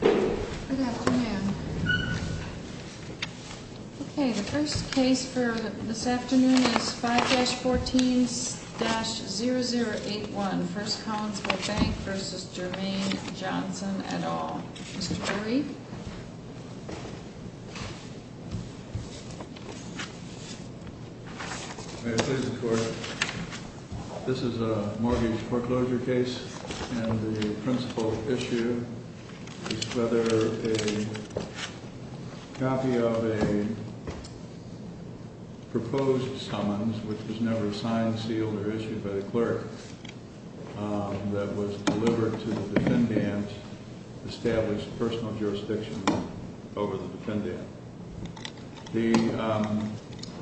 Good afternoon. Okay, the first case for this afternoon is 5-14-0081, First Collinsville Bank v. Jermaine Johnson, et al. This is a mortgage foreclosure case, and the principal issue is whether a copy of a proposed summons, which was never signed, sealed, or issued by the clerk, that was delivered to the defendant established personal jurisdiction over the defendant. The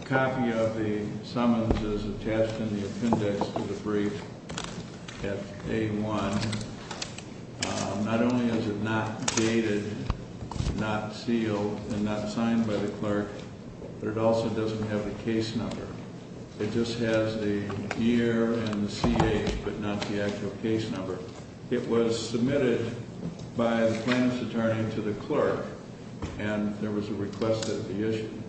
copy of the summons is attached in the appendix to the brief at A-1. Not only is it not dated, not sealed, and not signed by the clerk, but it also doesn't have the case number. It just has the year and the CA, but not the actual case number. It was submitted by the plaintiff's attorney to the clerk, and there was a request that it be issued.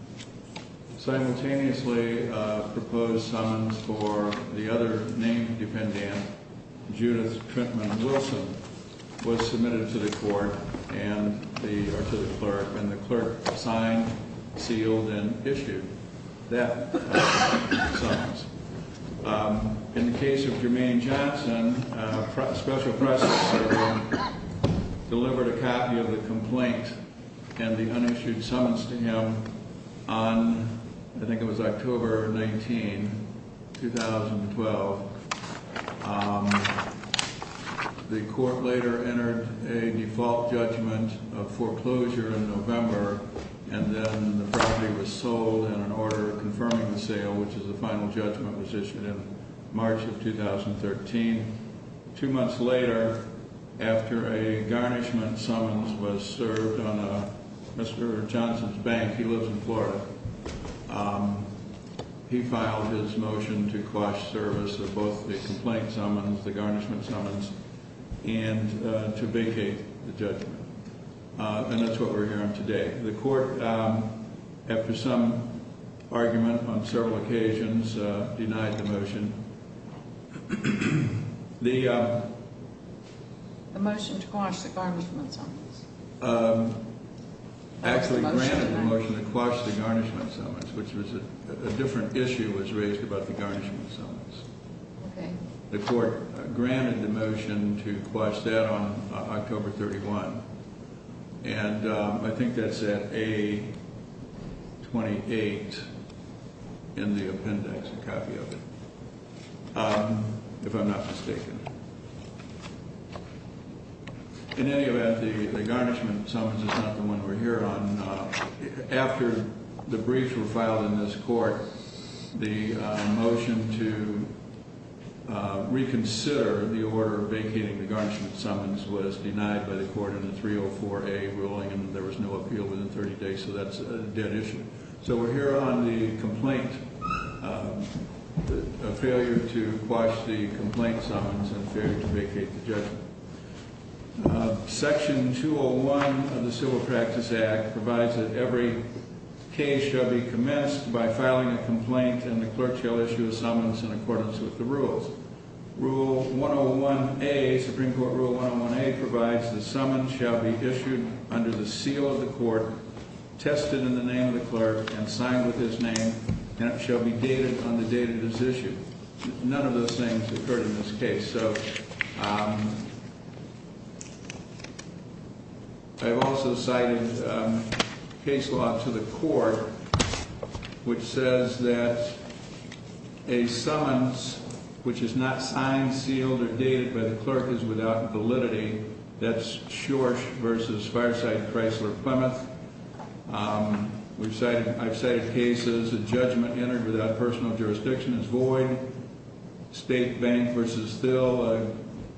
Simultaneously, a proposed summons for the other named defendant, Judith Trentman Wilson, was submitted to the clerk, and the clerk signed, sealed, and issued that summons. In the case of Jermaine Johnson, a special precedent delivered a copy of the complaint and the unissued summons to him on, I think it was October 19, 2012. The court later entered a default judgment of foreclosure in November, and then the property was sold in an order confirming the sale, which is the final judgment was issued in March of 2013. Two months later, after a garnishment summons was served on Mr. Johnson's bank, he lives in Florida, he filed his motion to quash service of both the complaint summons, the garnishment summons, and to vacate the judgment. And that's what we're hearing today. The court, after some argument on several occasions, denied the motion. The motion to quash the garnishment summons. Actually, granted the motion to quash the garnishment summons, which was a different issue was raised about the garnishment summons. The court granted the motion to quash that on October 31. And I think that's at A28 in the appendix, a copy of it, if I'm not mistaken. In any event, the garnishment summons is not the one we're here on. After the briefs were filed in this court, the motion to reconsider the order vacating the garnishment summons was denied by the court in the 304A ruling, and there was no appeal within 30 days, so that's a dead issue. So we're here on the complaint, a failure to quash the complaint summons and failure to vacate the judgment. Section 201 of the Civil Practice Act provides that every case shall be commenced by filing a complaint, and the clerk shall issue a summons in accordance with the rules. Rule 101A, Supreme Court Rule 101A, provides that summons shall be issued under the seal of the court, tested in the name of the clerk, and signed with his name, and it shall be dated on the date of this issue. None of those things occurred in this case. I've also cited case law to the court, which says that a summons which is not signed, sealed, or dated by the clerk is without validity. That's Schorsch v. Fireside-Chrysler-Plymouth. I've cited cases. A judgment entered without personal jurisdiction is void. State Bank v. Thill, a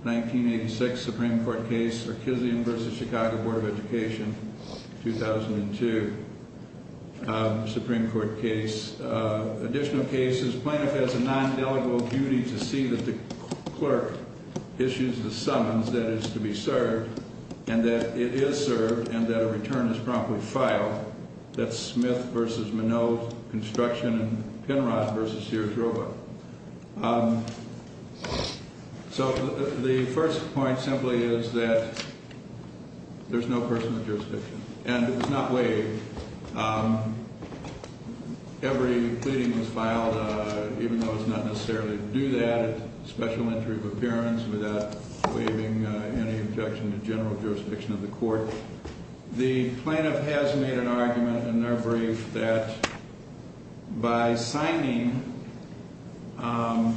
1986 Supreme Court case. Orkizian v. Chicago Board of Education, 2002 Supreme Court case. Additional cases. Plaintiff has a nondelegable duty to see that the clerk issues the summons that is to be served, and that it is served, and that a return is promptly filed. That's Smith v. Minow Construction and Penrod v. Sears-Roba. So the first point simply is that there's no personal jurisdiction, and it's not waived. Every pleading was filed, even though it's not necessarily to do that, a special entry of appearance without waiving any objection to general jurisdiction of the court. The plaintiff has made an argument in their brief that by signing a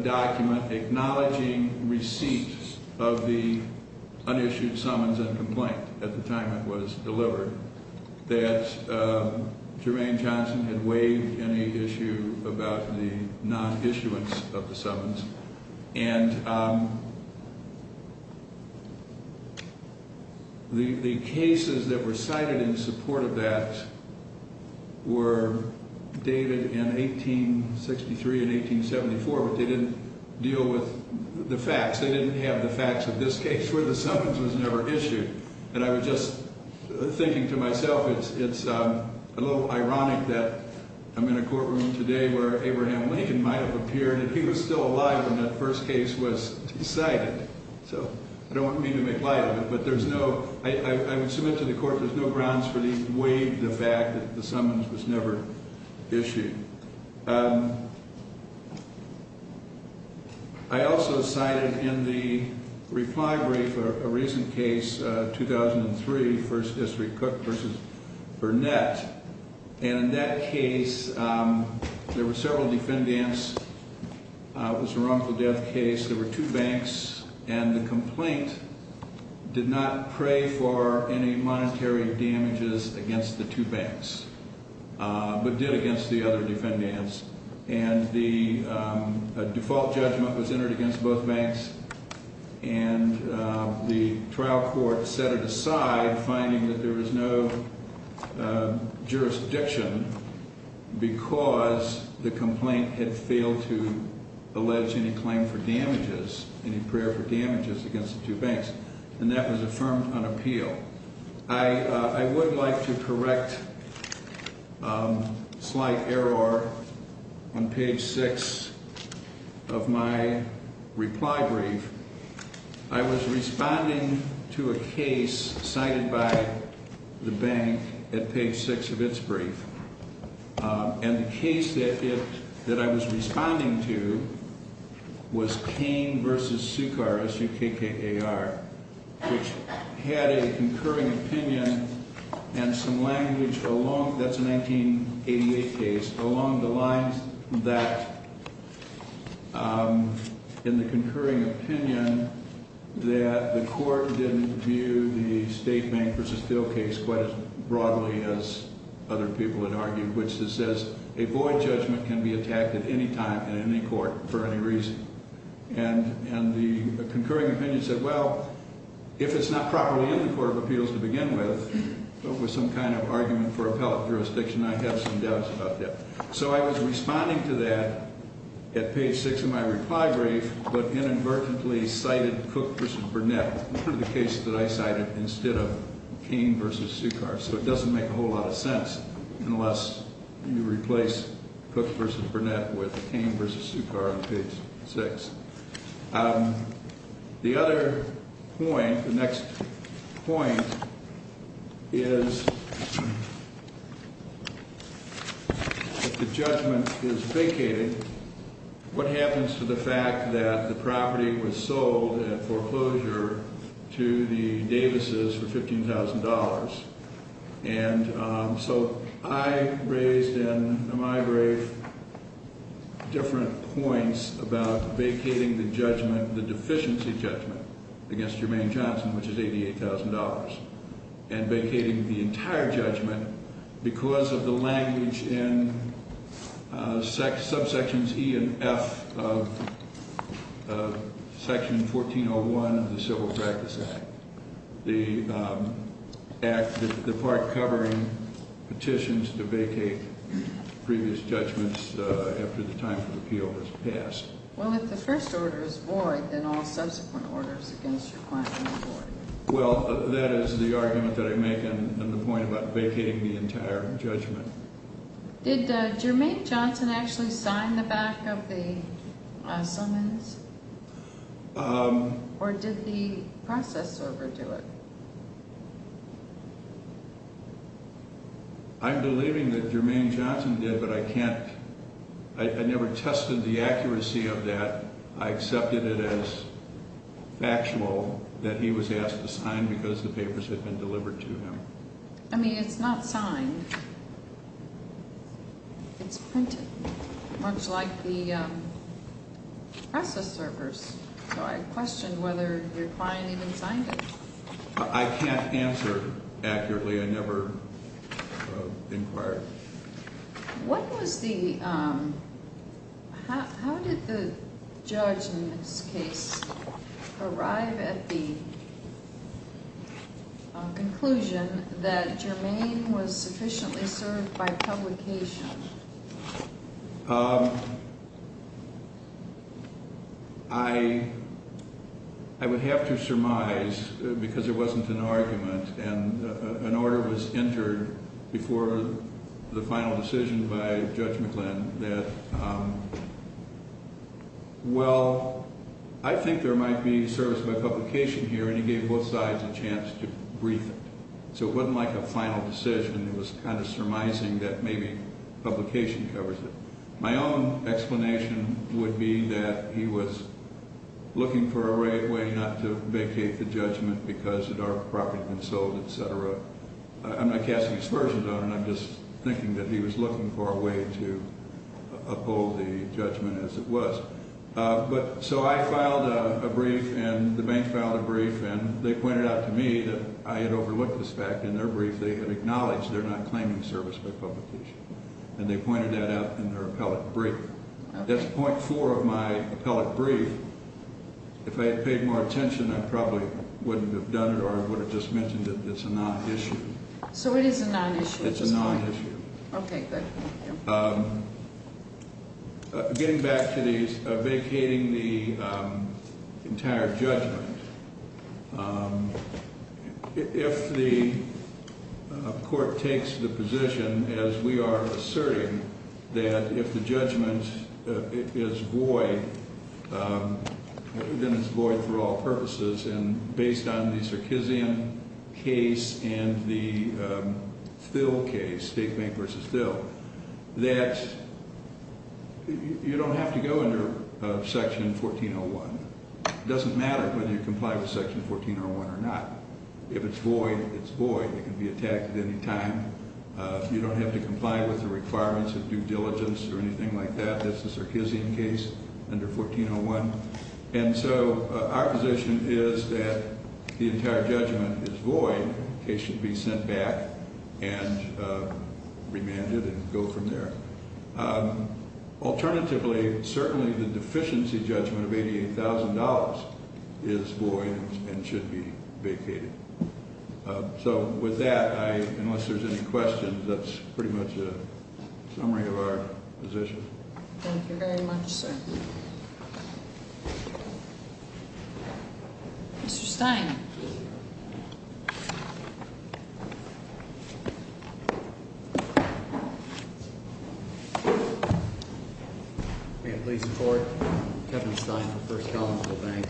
document acknowledging receipt of the unissued summons and complaint at the time it was delivered, that Germaine Johnson had waived any issue about the non-issuance of the summons. And the cases that were cited in support of that were dated in 1863 and 1874, but they didn't deal with the facts. They didn't have the facts of this case where the summons was never issued. And I was just thinking to myself, it's a little ironic that I'm in a courtroom today where Abraham Lincoln might have appeared, and he was still alive when that first case was cited. So I don't mean to make light of it, but there's no – I would submit to the court there's no grounds for the waive of the fact that the summons was never issued. I also cited in the reply brief a recent case, 2003, First District Cook v. Burnett, and in that case there were several defendants. It was a wrongful death case. There were two banks, and the complaint did not pray for any monetary damages against the two banks, but did against the other defendants. And the default judgment was entered against both banks, and the trial court set it aside, finding that there was no jurisdiction because the complaint had failed to allege any claim for damages, any prayer for damages against the two banks. And that was affirmed on appeal. I would like to correct a slight error on page 6 of my reply brief. I was responding to a case cited by the bank at page 6 of its brief, and the case that I was responding to was Cain v. Sukar, S-U-K-K-A-R, which had a concurring opinion and some language along – that's a 1988 case – along the lines that, in the concurring opinion, that the court didn't view the state bank v. Thiel case quite as broadly as other people had argued, which says a void judgment can be attacked at any time in any court for any reason. And the concurring opinion said, well, if it's not properly in the Court of Appeals to begin with, with some kind of argument for appellate jurisdiction, I have some doubts about that. So I was responding to that at page 6 of my reply brief, but inadvertently cited Cook v. Burnett for the case that I cited instead of Cain v. Sukar. So it doesn't make a whole lot of sense unless you replace Cook v. Burnett with Cain v. Sukar on page 6. The other point, the next point, is if the judgment is vacated, what happens to the fact that the property was sold at foreclosure to the Davises for $15,000? And so I raised in my brief different points about vacating the judgment, the deficiency judgment, against Germaine Johnson, which is $88,000, and vacating the entire judgment because of the language in subsections E and F of Section 1401 of the Civil Practice Act. The part covering petitions to vacate previous judgments after the time for the appeal has passed. Well, if the first order is void, then all subsequent orders against your client are void. Well, that is the argument that I make on the point about vacating the entire judgment. Did Germaine Johnson actually sign the back of the summons, or did the process server do it? I'm believing that Germaine Johnson did, but I never tested the accuracy of that. I accepted it as factual that he was asked to sign because the papers had been delivered to him. I mean, it's not signed. It's printed, much like the process servers. So I questioned whether your client even signed it. I can't answer accurately. I never inquired. What was the—how did the judge in this case arrive at the conclusion that Germaine was sufficiently served by publication? I would have to surmise, because it wasn't an argument, and an order was entered before the final decision by Judge McGlynn that, well, I think there might be service by publication here, and he gave both sides a chance to brief it. So it wasn't like a final decision. It was kind of surmising that maybe publication covers it. My own explanation would be that he was looking for a way not to vacate the judgment because it—our property had been sold, et cetera. I'm not casting aspersions on it. I'm just thinking that he was looking for a way to uphold the judgment as it was. So I filed a brief, and the bank filed a brief, and they pointed out to me that I had overlooked this fact in their brief. They had acknowledged they're not claiming service by publication, and they pointed that out in their appellate brief. That's point four of my appellate brief. If I had paid more attention, I probably wouldn't have done it or would have just mentioned that it's a non-issue. So it is a non-issue. It's a non-issue. Okay, good. Getting back to the vacating the entire judgment, if the court takes the position, as we are asserting, that if the judgment is void, then it's void for all purposes. And based on the Sarkeesian case and the Thill case, State Bank v. Thill, that you don't have to go under Section 1401. It doesn't matter whether you comply with Section 1401 or not. If it's void, it's void. It can be attacked at any time. You don't have to comply with the requirements of due diligence or anything like that. That's the Sarkeesian case under 1401. And so our position is that the entire judgment is void. It should be sent back and remanded and go from there. Alternatively, certainly the deficiency judgment of $88,000 is void and should be vacated. So with that, unless there's any questions, that's pretty much a summary of our position. Thank you very much, sir. Mr. Stein. May it please the Court? Kevin Stein, First Column for the Bank.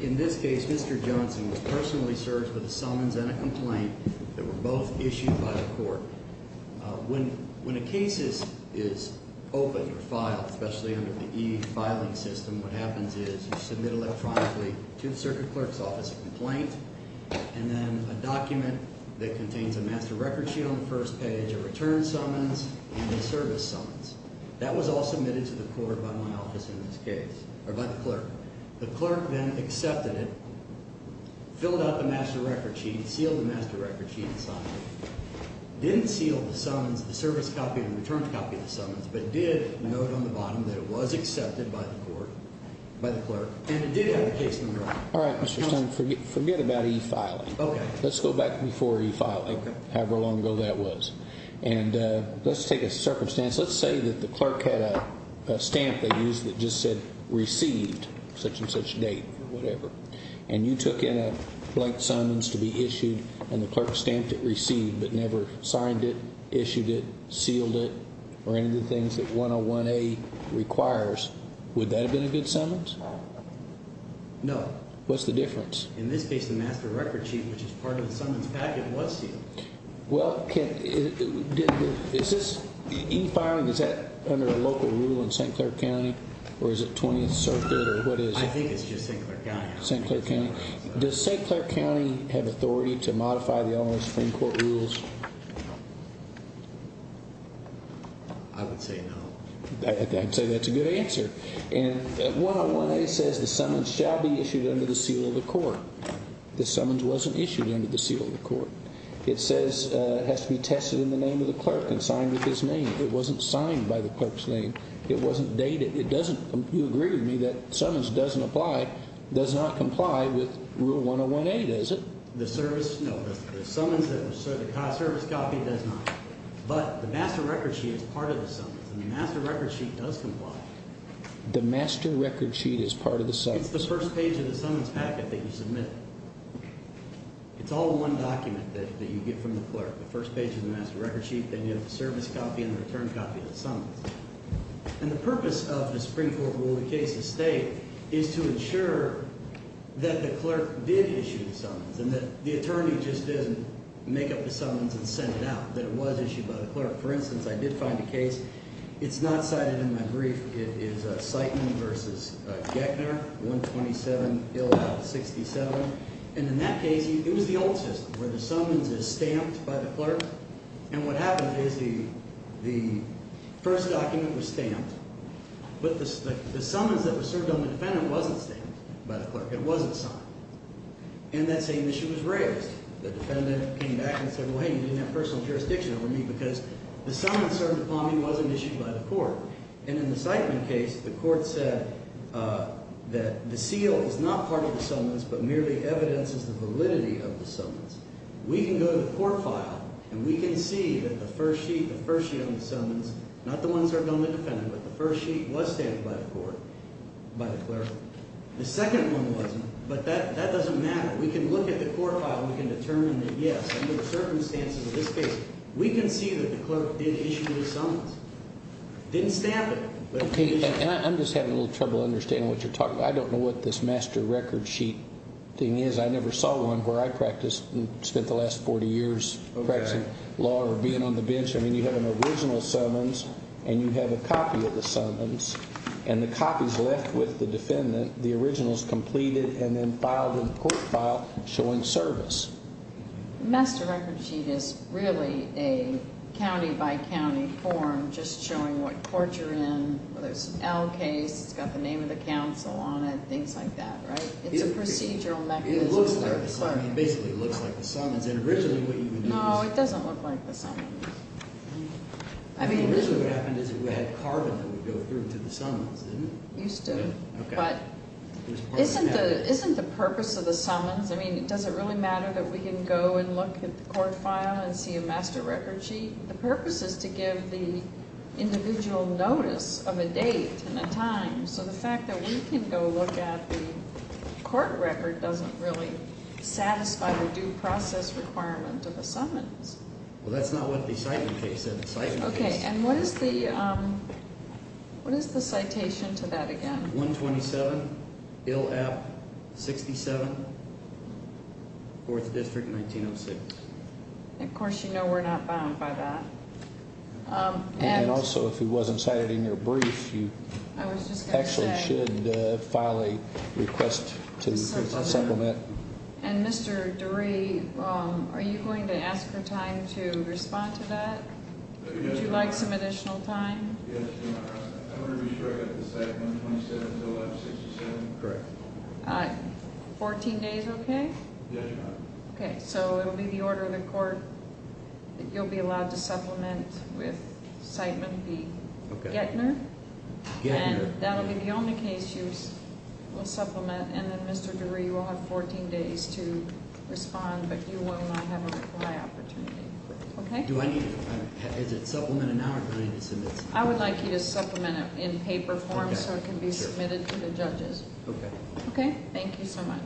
In this case, Mr. Johnson was personally served with a summons and a complaint that were both issued by the court. When a case is opened or filed, especially under the e-filing system, what happens is you submit electronically to the circuit clerk's office a complaint and then a document that contains a master record sheet on the first page, a return summons, and a service summons. That was all submitted to the court by my office in this case, or by the clerk. The clerk then accepted it, filled out the master record sheet, sealed the master record sheet, and signed it. Didn't seal the summons, the service copy and return copy of the summons, but did note on the bottom that it was accepted by the court, by the clerk. And it did have the case number on it. All right, Mr. Stein. Forget about e-filing. Let's go back before e-filing, however long ago that was. And let's take a circumstance. Let's say that the clerk had a stamp they used that just said received such and such date or whatever. And you took in a blank summons to be issued, and the clerk stamped it received, but never signed it, issued it, sealed it, or any of the things that 101A requires. Would that have been a good summons? No. What's the difference? In this case, the master record sheet, which is part of the summons packet, was sealed. Well, is this e-filing, is that under a local rule in St. Clair County? Or is it 20th Circuit? I think it's just St. Clair County. St. Clair County. Does St. Clair County have authority to modify the Elementary Supreme Court rules? I would say no. I'd say that's a good answer. And 101A says the summons shall be issued under the seal of the court. The summons wasn't issued under the seal of the court. It says it has to be tested in the name of the clerk and signed with his name. It wasn't signed by the clerk's name. It wasn't dated. You agree with me that summons doesn't apply, does not comply with Rule 101A, does it? No. The summons service copy does not. But the master record sheet is part of the summons, and the master record sheet does comply. The master record sheet is part of the summons? It's the first page of the summons packet that you submit. It's all one document that you get from the clerk. The first page of the master record sheet, then you have the service copy and the return copy of the summons. And the purpose of the Supreme Court rule in the case of State is to ensure that the clerk did issue the summons and that the attorney just didn't make up the summons and send it out, that it was issued by the clerk. For instance, I did find a case. It's not cited in my brief. It is Sightman v. Geckner, 127-67. And in that case, it was the old system where the summons is stamped by the clerk. And what happened is the first document was stamped, but the summons that were served on the defendant wasn't stamped by the clerk. It wasn't signed. And that same issue was raised. The defendant came back and said, well, hey, you didn't have personal jurisdiction over me because the summons served upon me wasn't issued by the court. And in the Sightman case, the court said that the seal is not part of the summons but merely evidences the validity of the summons. We can go to the court file and we can see that the first sheet, the first sheet on the summons, not the ones served on the defendant, but the first sheet was stamped by the court, by the clerk. The second one wasn't, but that doesn't matter. We can look at the court file and we can determine that, yes, under the circumstances of this case, we can see that the clerk did issue the summons. Didn't stamp it. Okay, and I'm just having a little trouble understanding what you're talking about. I don't know what this master record sheet thing is. I never saw one where I practiced and spent the last 40 years practicing law or being on the bench. I mean, you have an original summons and you have a copy of the summons, and the copy is left with the defendant. The original is completed and then filed in the court file showing service. The master record sheet is really a county-by-county form just showing what court you're in, whether it's an L case, it's got the name of the counsel on it, things like that, right? It's a procedural mechanism. It basically looks like the summons. No, it doesn't look like the summons. Originally what happened is it had carbon that would go through to the summons, didn't it? Used to, but isn't the purpose of the summons, I mean, does it really matter that we can go and look at the court file and see a master record sheet? The purpose is to give the individual notice of a date and a time, so the fact that we can go look at the court record doesn't really satisfy the due process requirement of the summons. Well, that's not what the citing case said. Okay, and what is the citation to that again? 127, ILF 67, 4th District, 1906. Of course, you know we're not bound by that. And also, if it wasn't cited in your brief, you actually should file a request to supplement. And Mr. DeRay, are you going to ask for time to respond to that? Would you like some additional time? Yes, Your Honor. I want to be sure I got the citation 127, ILF 67 correct. 14 days okay? Yes, Your Honor. Okay, so it will be the order of the court that you'll be allowed to supplement with citement B, Gettner. Gettner. And that will be the only case you will supplement. And then Mr. DeRay, you will have 14 days to respond, but you will not have a reply opportunity. Okay? Do I need to, is it supplemented now or do I need to submit- I would like you to supplement it in paper form so it can be submitted to the judges. Okay. Okay? Thank you so much.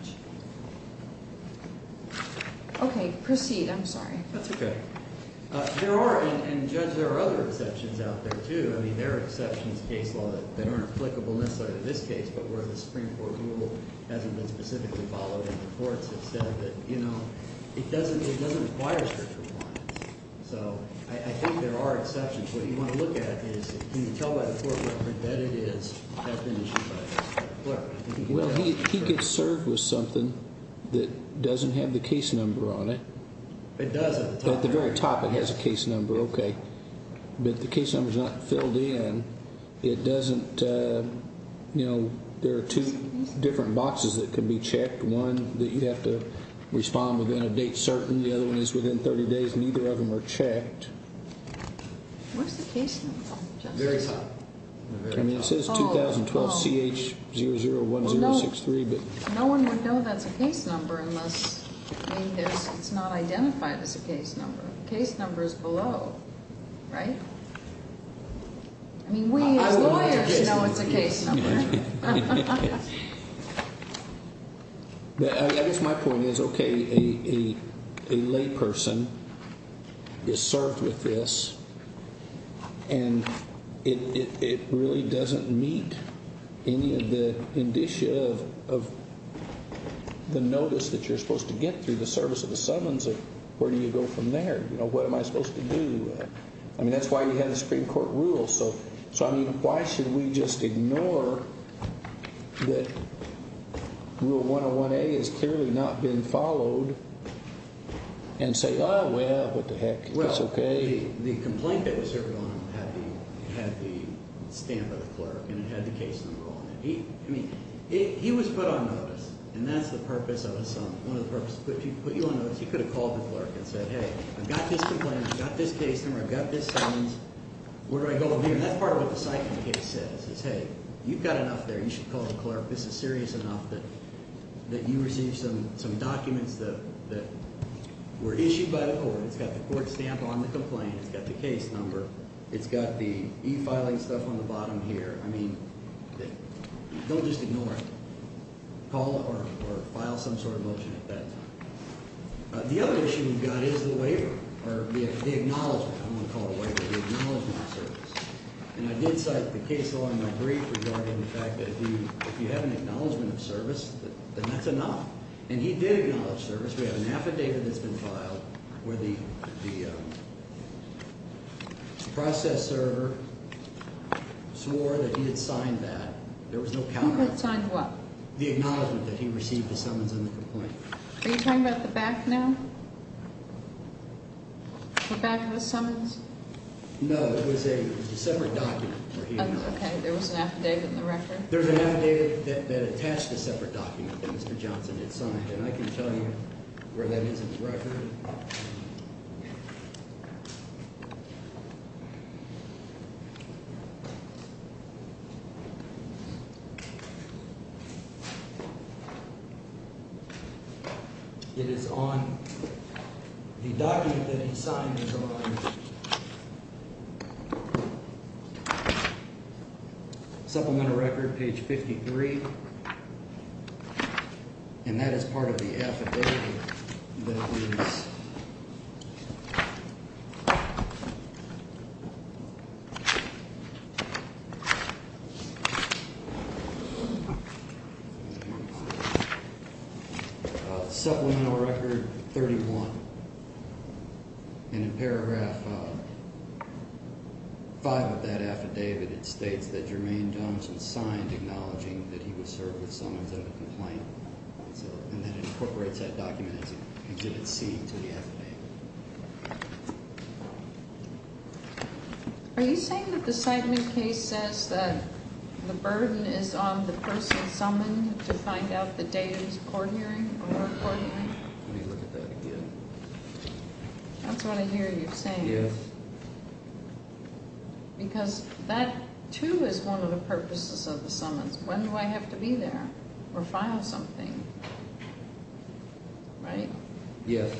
Okay, proceed. I'm sorry. That's okay. There are, and Judge, there are other exceptions out there too. I mean, there are exceptions to case law that aren't applicable necessarily to this case, but where the Supreme Court rule hasn't been specifically followed and the courts have said that, you know, it doesn't require search requirements. So I think there are exceptions. What you want to look at is can you tell by the court record that it has been issued by the clerk? Well, he could serve with something that doesn't have the case number on it. It does at the top. At the very top it has a case number. Okay. But the case number is not filled in. It doesn't, you know, there are two different boxes that can be checked, one that you have to respond within a date certain, the other one is within 30 days, and neither of them are checked. Where's the case number from, Judge? Very top. I mean, it says 2012CH001063. No one would know that's a case number unless, I mean, it's not identified as a case number. The case number is below, right? I mean, we as lawyers know it's a case number. I guess my point is, okay, a layperson is served with this and it really doesn't meet any of the indicia of the notice that you're supposed to get through the service of the summons of where do you go from there? You know, what am I supposed to do? I mean, that's why you have the Supreme Court rules. So, I mean, why should we just ignore that Rule 101A has clearly not been followed and say, oh, well, what the heck, it's okay. The complaint that was served on him had the stamp of the clerk and it had the case number on it. I mean, he was put on notice, and that's the purpose of a summons. One of the purposes is to put you on notice. He could have called the clerk and said, hey, I've got this complaint. I've got this case number. I've got this summons. Where do I go from here? And that's part of what the cycling case says is, hey, you've got enough there. You should call the clerk. This is serious enough that you receive some documents that were issued by the court. It's got the court stamp on the complaint. It's got the case number. It's got the e-filing stuff on the bottom here. I mean, don't just ignore it. Call or file some sort of motion at that time. The other issue we've got is the waiver or the acknowledgement. I don't want to call it a waiver, the acknowledgement of service. And I did cite the case law in my brief regarding the fact that if you have an acknowledgement of service, then that's enough. And he did acknowledge service. We have an affidavit that's been filed where the processor swore that he had signed that. There was no counter. He had signed what? The acknowledgement that he received the summons and the complaint. Are you talking about the back now? The back of the summons? No. It was a separate document. Okay. There was an affidavit in the record. There's an affidavit that attached a separate document that Mr. Johnson had signed. And I can tell you where that is in the record. It is on the document that he signed. Supplemental record, page 53. And that is part of the affidavit. Supplemental record 31. And in paragraph 5 of that affidavit, it states that Jermaine Johnson signed acknowledging that he was served with summons and a complaint. And that incorporates that document as an exhibit C to the affidavit. Are you saying that the Seidman case says that the burden is on the person summoned to find out the date of his court hearing or court hearing? Let me look at that again. That's what I hear you saying. Yes. Because that, too, is one of the purposes of the summons. When do I have to be there or file something? Right? Yes.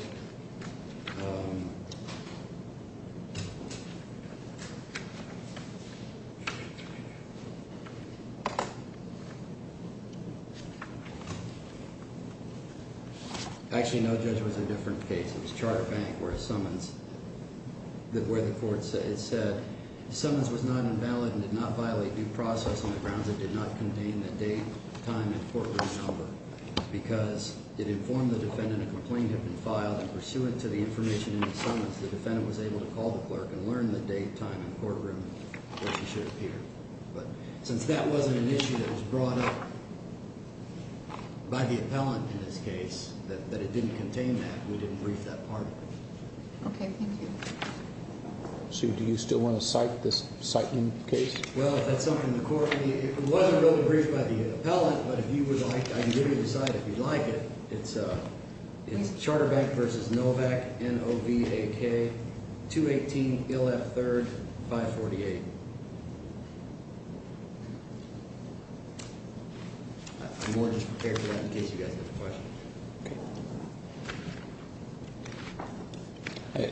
Actually, no, Judge, it was a different case. It was Charter Bank where the court said the summons was not invalid and did not violate due process on the grounds it did not contain the date, time, and courtroom number. Because it informed the defendant a complaint had been filed, and pursuant to the information in the summons, the defendant was able to call the clerk and learn the date, time, and courtroom where she should appear. But since that wasn't an issue that was brought up by the appellant in this case, that it didn't contain that, we didn't brief that part of it. Okay, thank you. Sue, do you still want to cite this Seidman case? Well, if that's something the court – it wasn't really briefed by the appellant, but if you would like, I can give you the cite if you'd like it. It's Charter Bank v. Novak, N-O-V-A-K, 218 Il F. 3rd, 548. I'm more than prepared for that in case you guys have a question.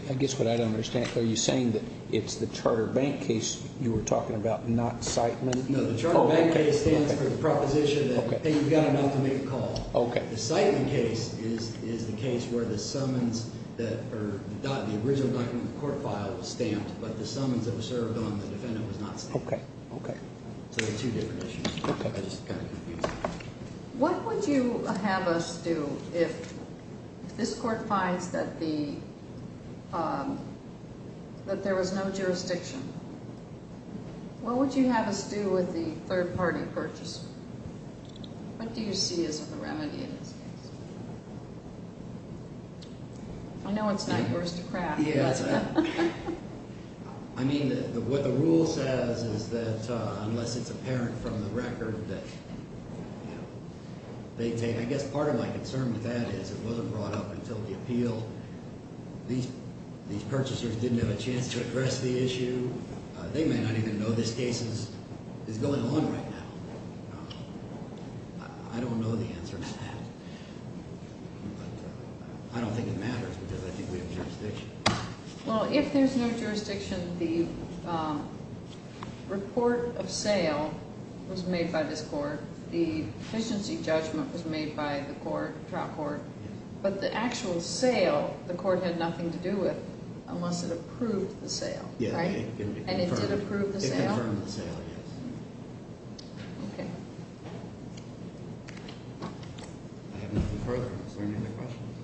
I guess what I don't understand, are you saying that it's the Charter Bank case you were talking about, not Seidman? No, the Charter Bank case stands for the proposition that you've got to make a call. The Seidman case is the case where the summons – the original document in the court file was stamped, but the summons that were served on the defendant was not stamped. So they're two different issues. What would you have us do if this court finds that the – that there was no jurisdiction? What would you have us do with the third-party purchase? What do you see as the remedy in this case? I know it's not yours to crack. I mean, what the rule says is that unless it's apparent from the record that they take – I guess part of my concern with that is it wasn't brought up until the appeal. These purchasers didn't have a chance to address the issue. They may not even know this case is going on right now. I don't know the answer to that. But I don't think it matters because I think we have jurisdiction. Well, if there's no jurisdiction, the report of sale was made by this court. The deficiency judgment was made by the court – the trial court. But the actual sale the court had nothing to do with unless it approved the sale, right? And it did approve the sale? It confirmed the sale, yes. Okay. I have nothing further. Is there any other questions?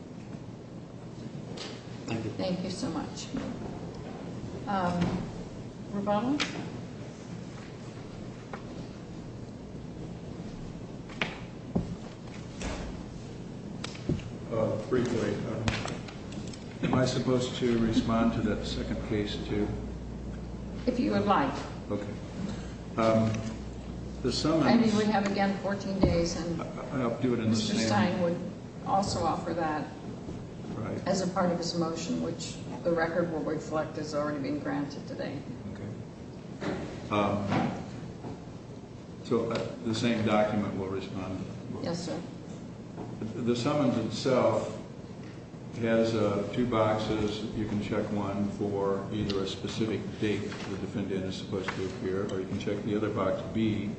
Thank you. Thank you so much. Roboto? Briefly, am I supposed to respond to that second case, too? If you would like. Okay. I mean, we have, again, 14 days, and Mr. Stein would also offer that as a part of his motion, which the record will reflect as already being granted today. Okay. So the same document will respond? Yes, sir. The summons itself has two boxes. You can check one for either a specific date the defendant is supposed to appear, or you can check the other box, B,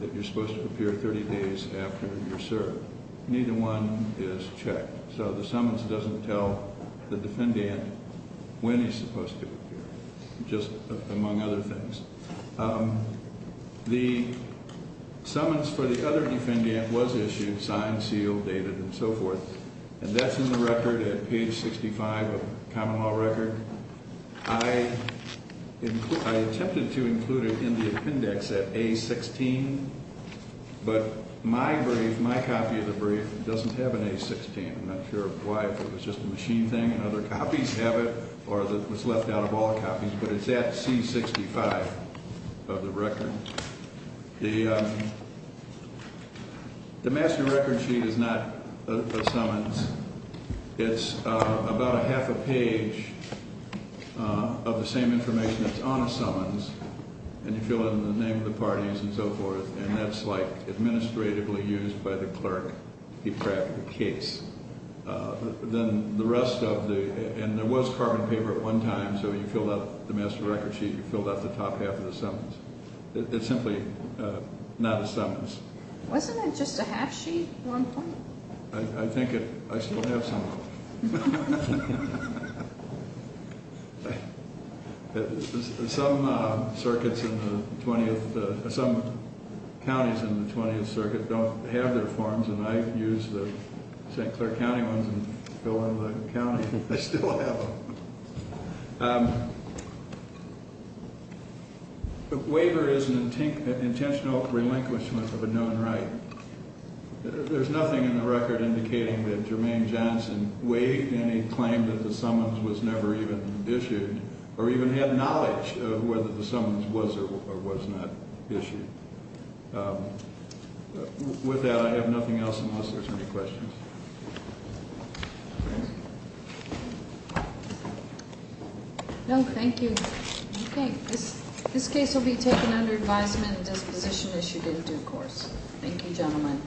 that you're supposed to appear 30 days after you're served. Neither one is checked. So the summons doesn't tell the defendant when he's supposed to appear, just among other things. The summons for the other defendant was issued, signed, sealed, dated, and so forth, and that's in the record at page 65 of the common law record. I attempted to include it in the appendix at A16, but my brief, my copy of the brief, doesn't have an A16. I'm not sure why. If it was just a machine thing and other copies have it, or it was left out of all copies, but it's at C65 of the record. The master record sheet is not a summons. It's about a half a page of the same information that's on a summons, and you fill it in the name of the parties and so forth, and that's, like, administratively used by the clerk, the case. Then the rest of the, and there was carbon paper at one time, so you filled out the master record sheet, you filled out the top half of the summons. It's simply not a summons. Wasn't it just a half sheet at one point? I think it, I still have some of it. Some circuits in the 20th, some counties in the 20th Circuit don't have their forms, and I use the St. Clair County ones and fill in the county. I still have them. Waiver is an intentional relinquishment of a known right. There's nothing in the record indicating that Jermaine Johnson waived any claim that the summons was never even issued, or even had knowledge of whether the summons was or was not issued. With that, I have nothing else unless there's any questions. No, thank you. Okay. This case will be taken under advisement and disposition issued in due course. Thank you, gentlemen.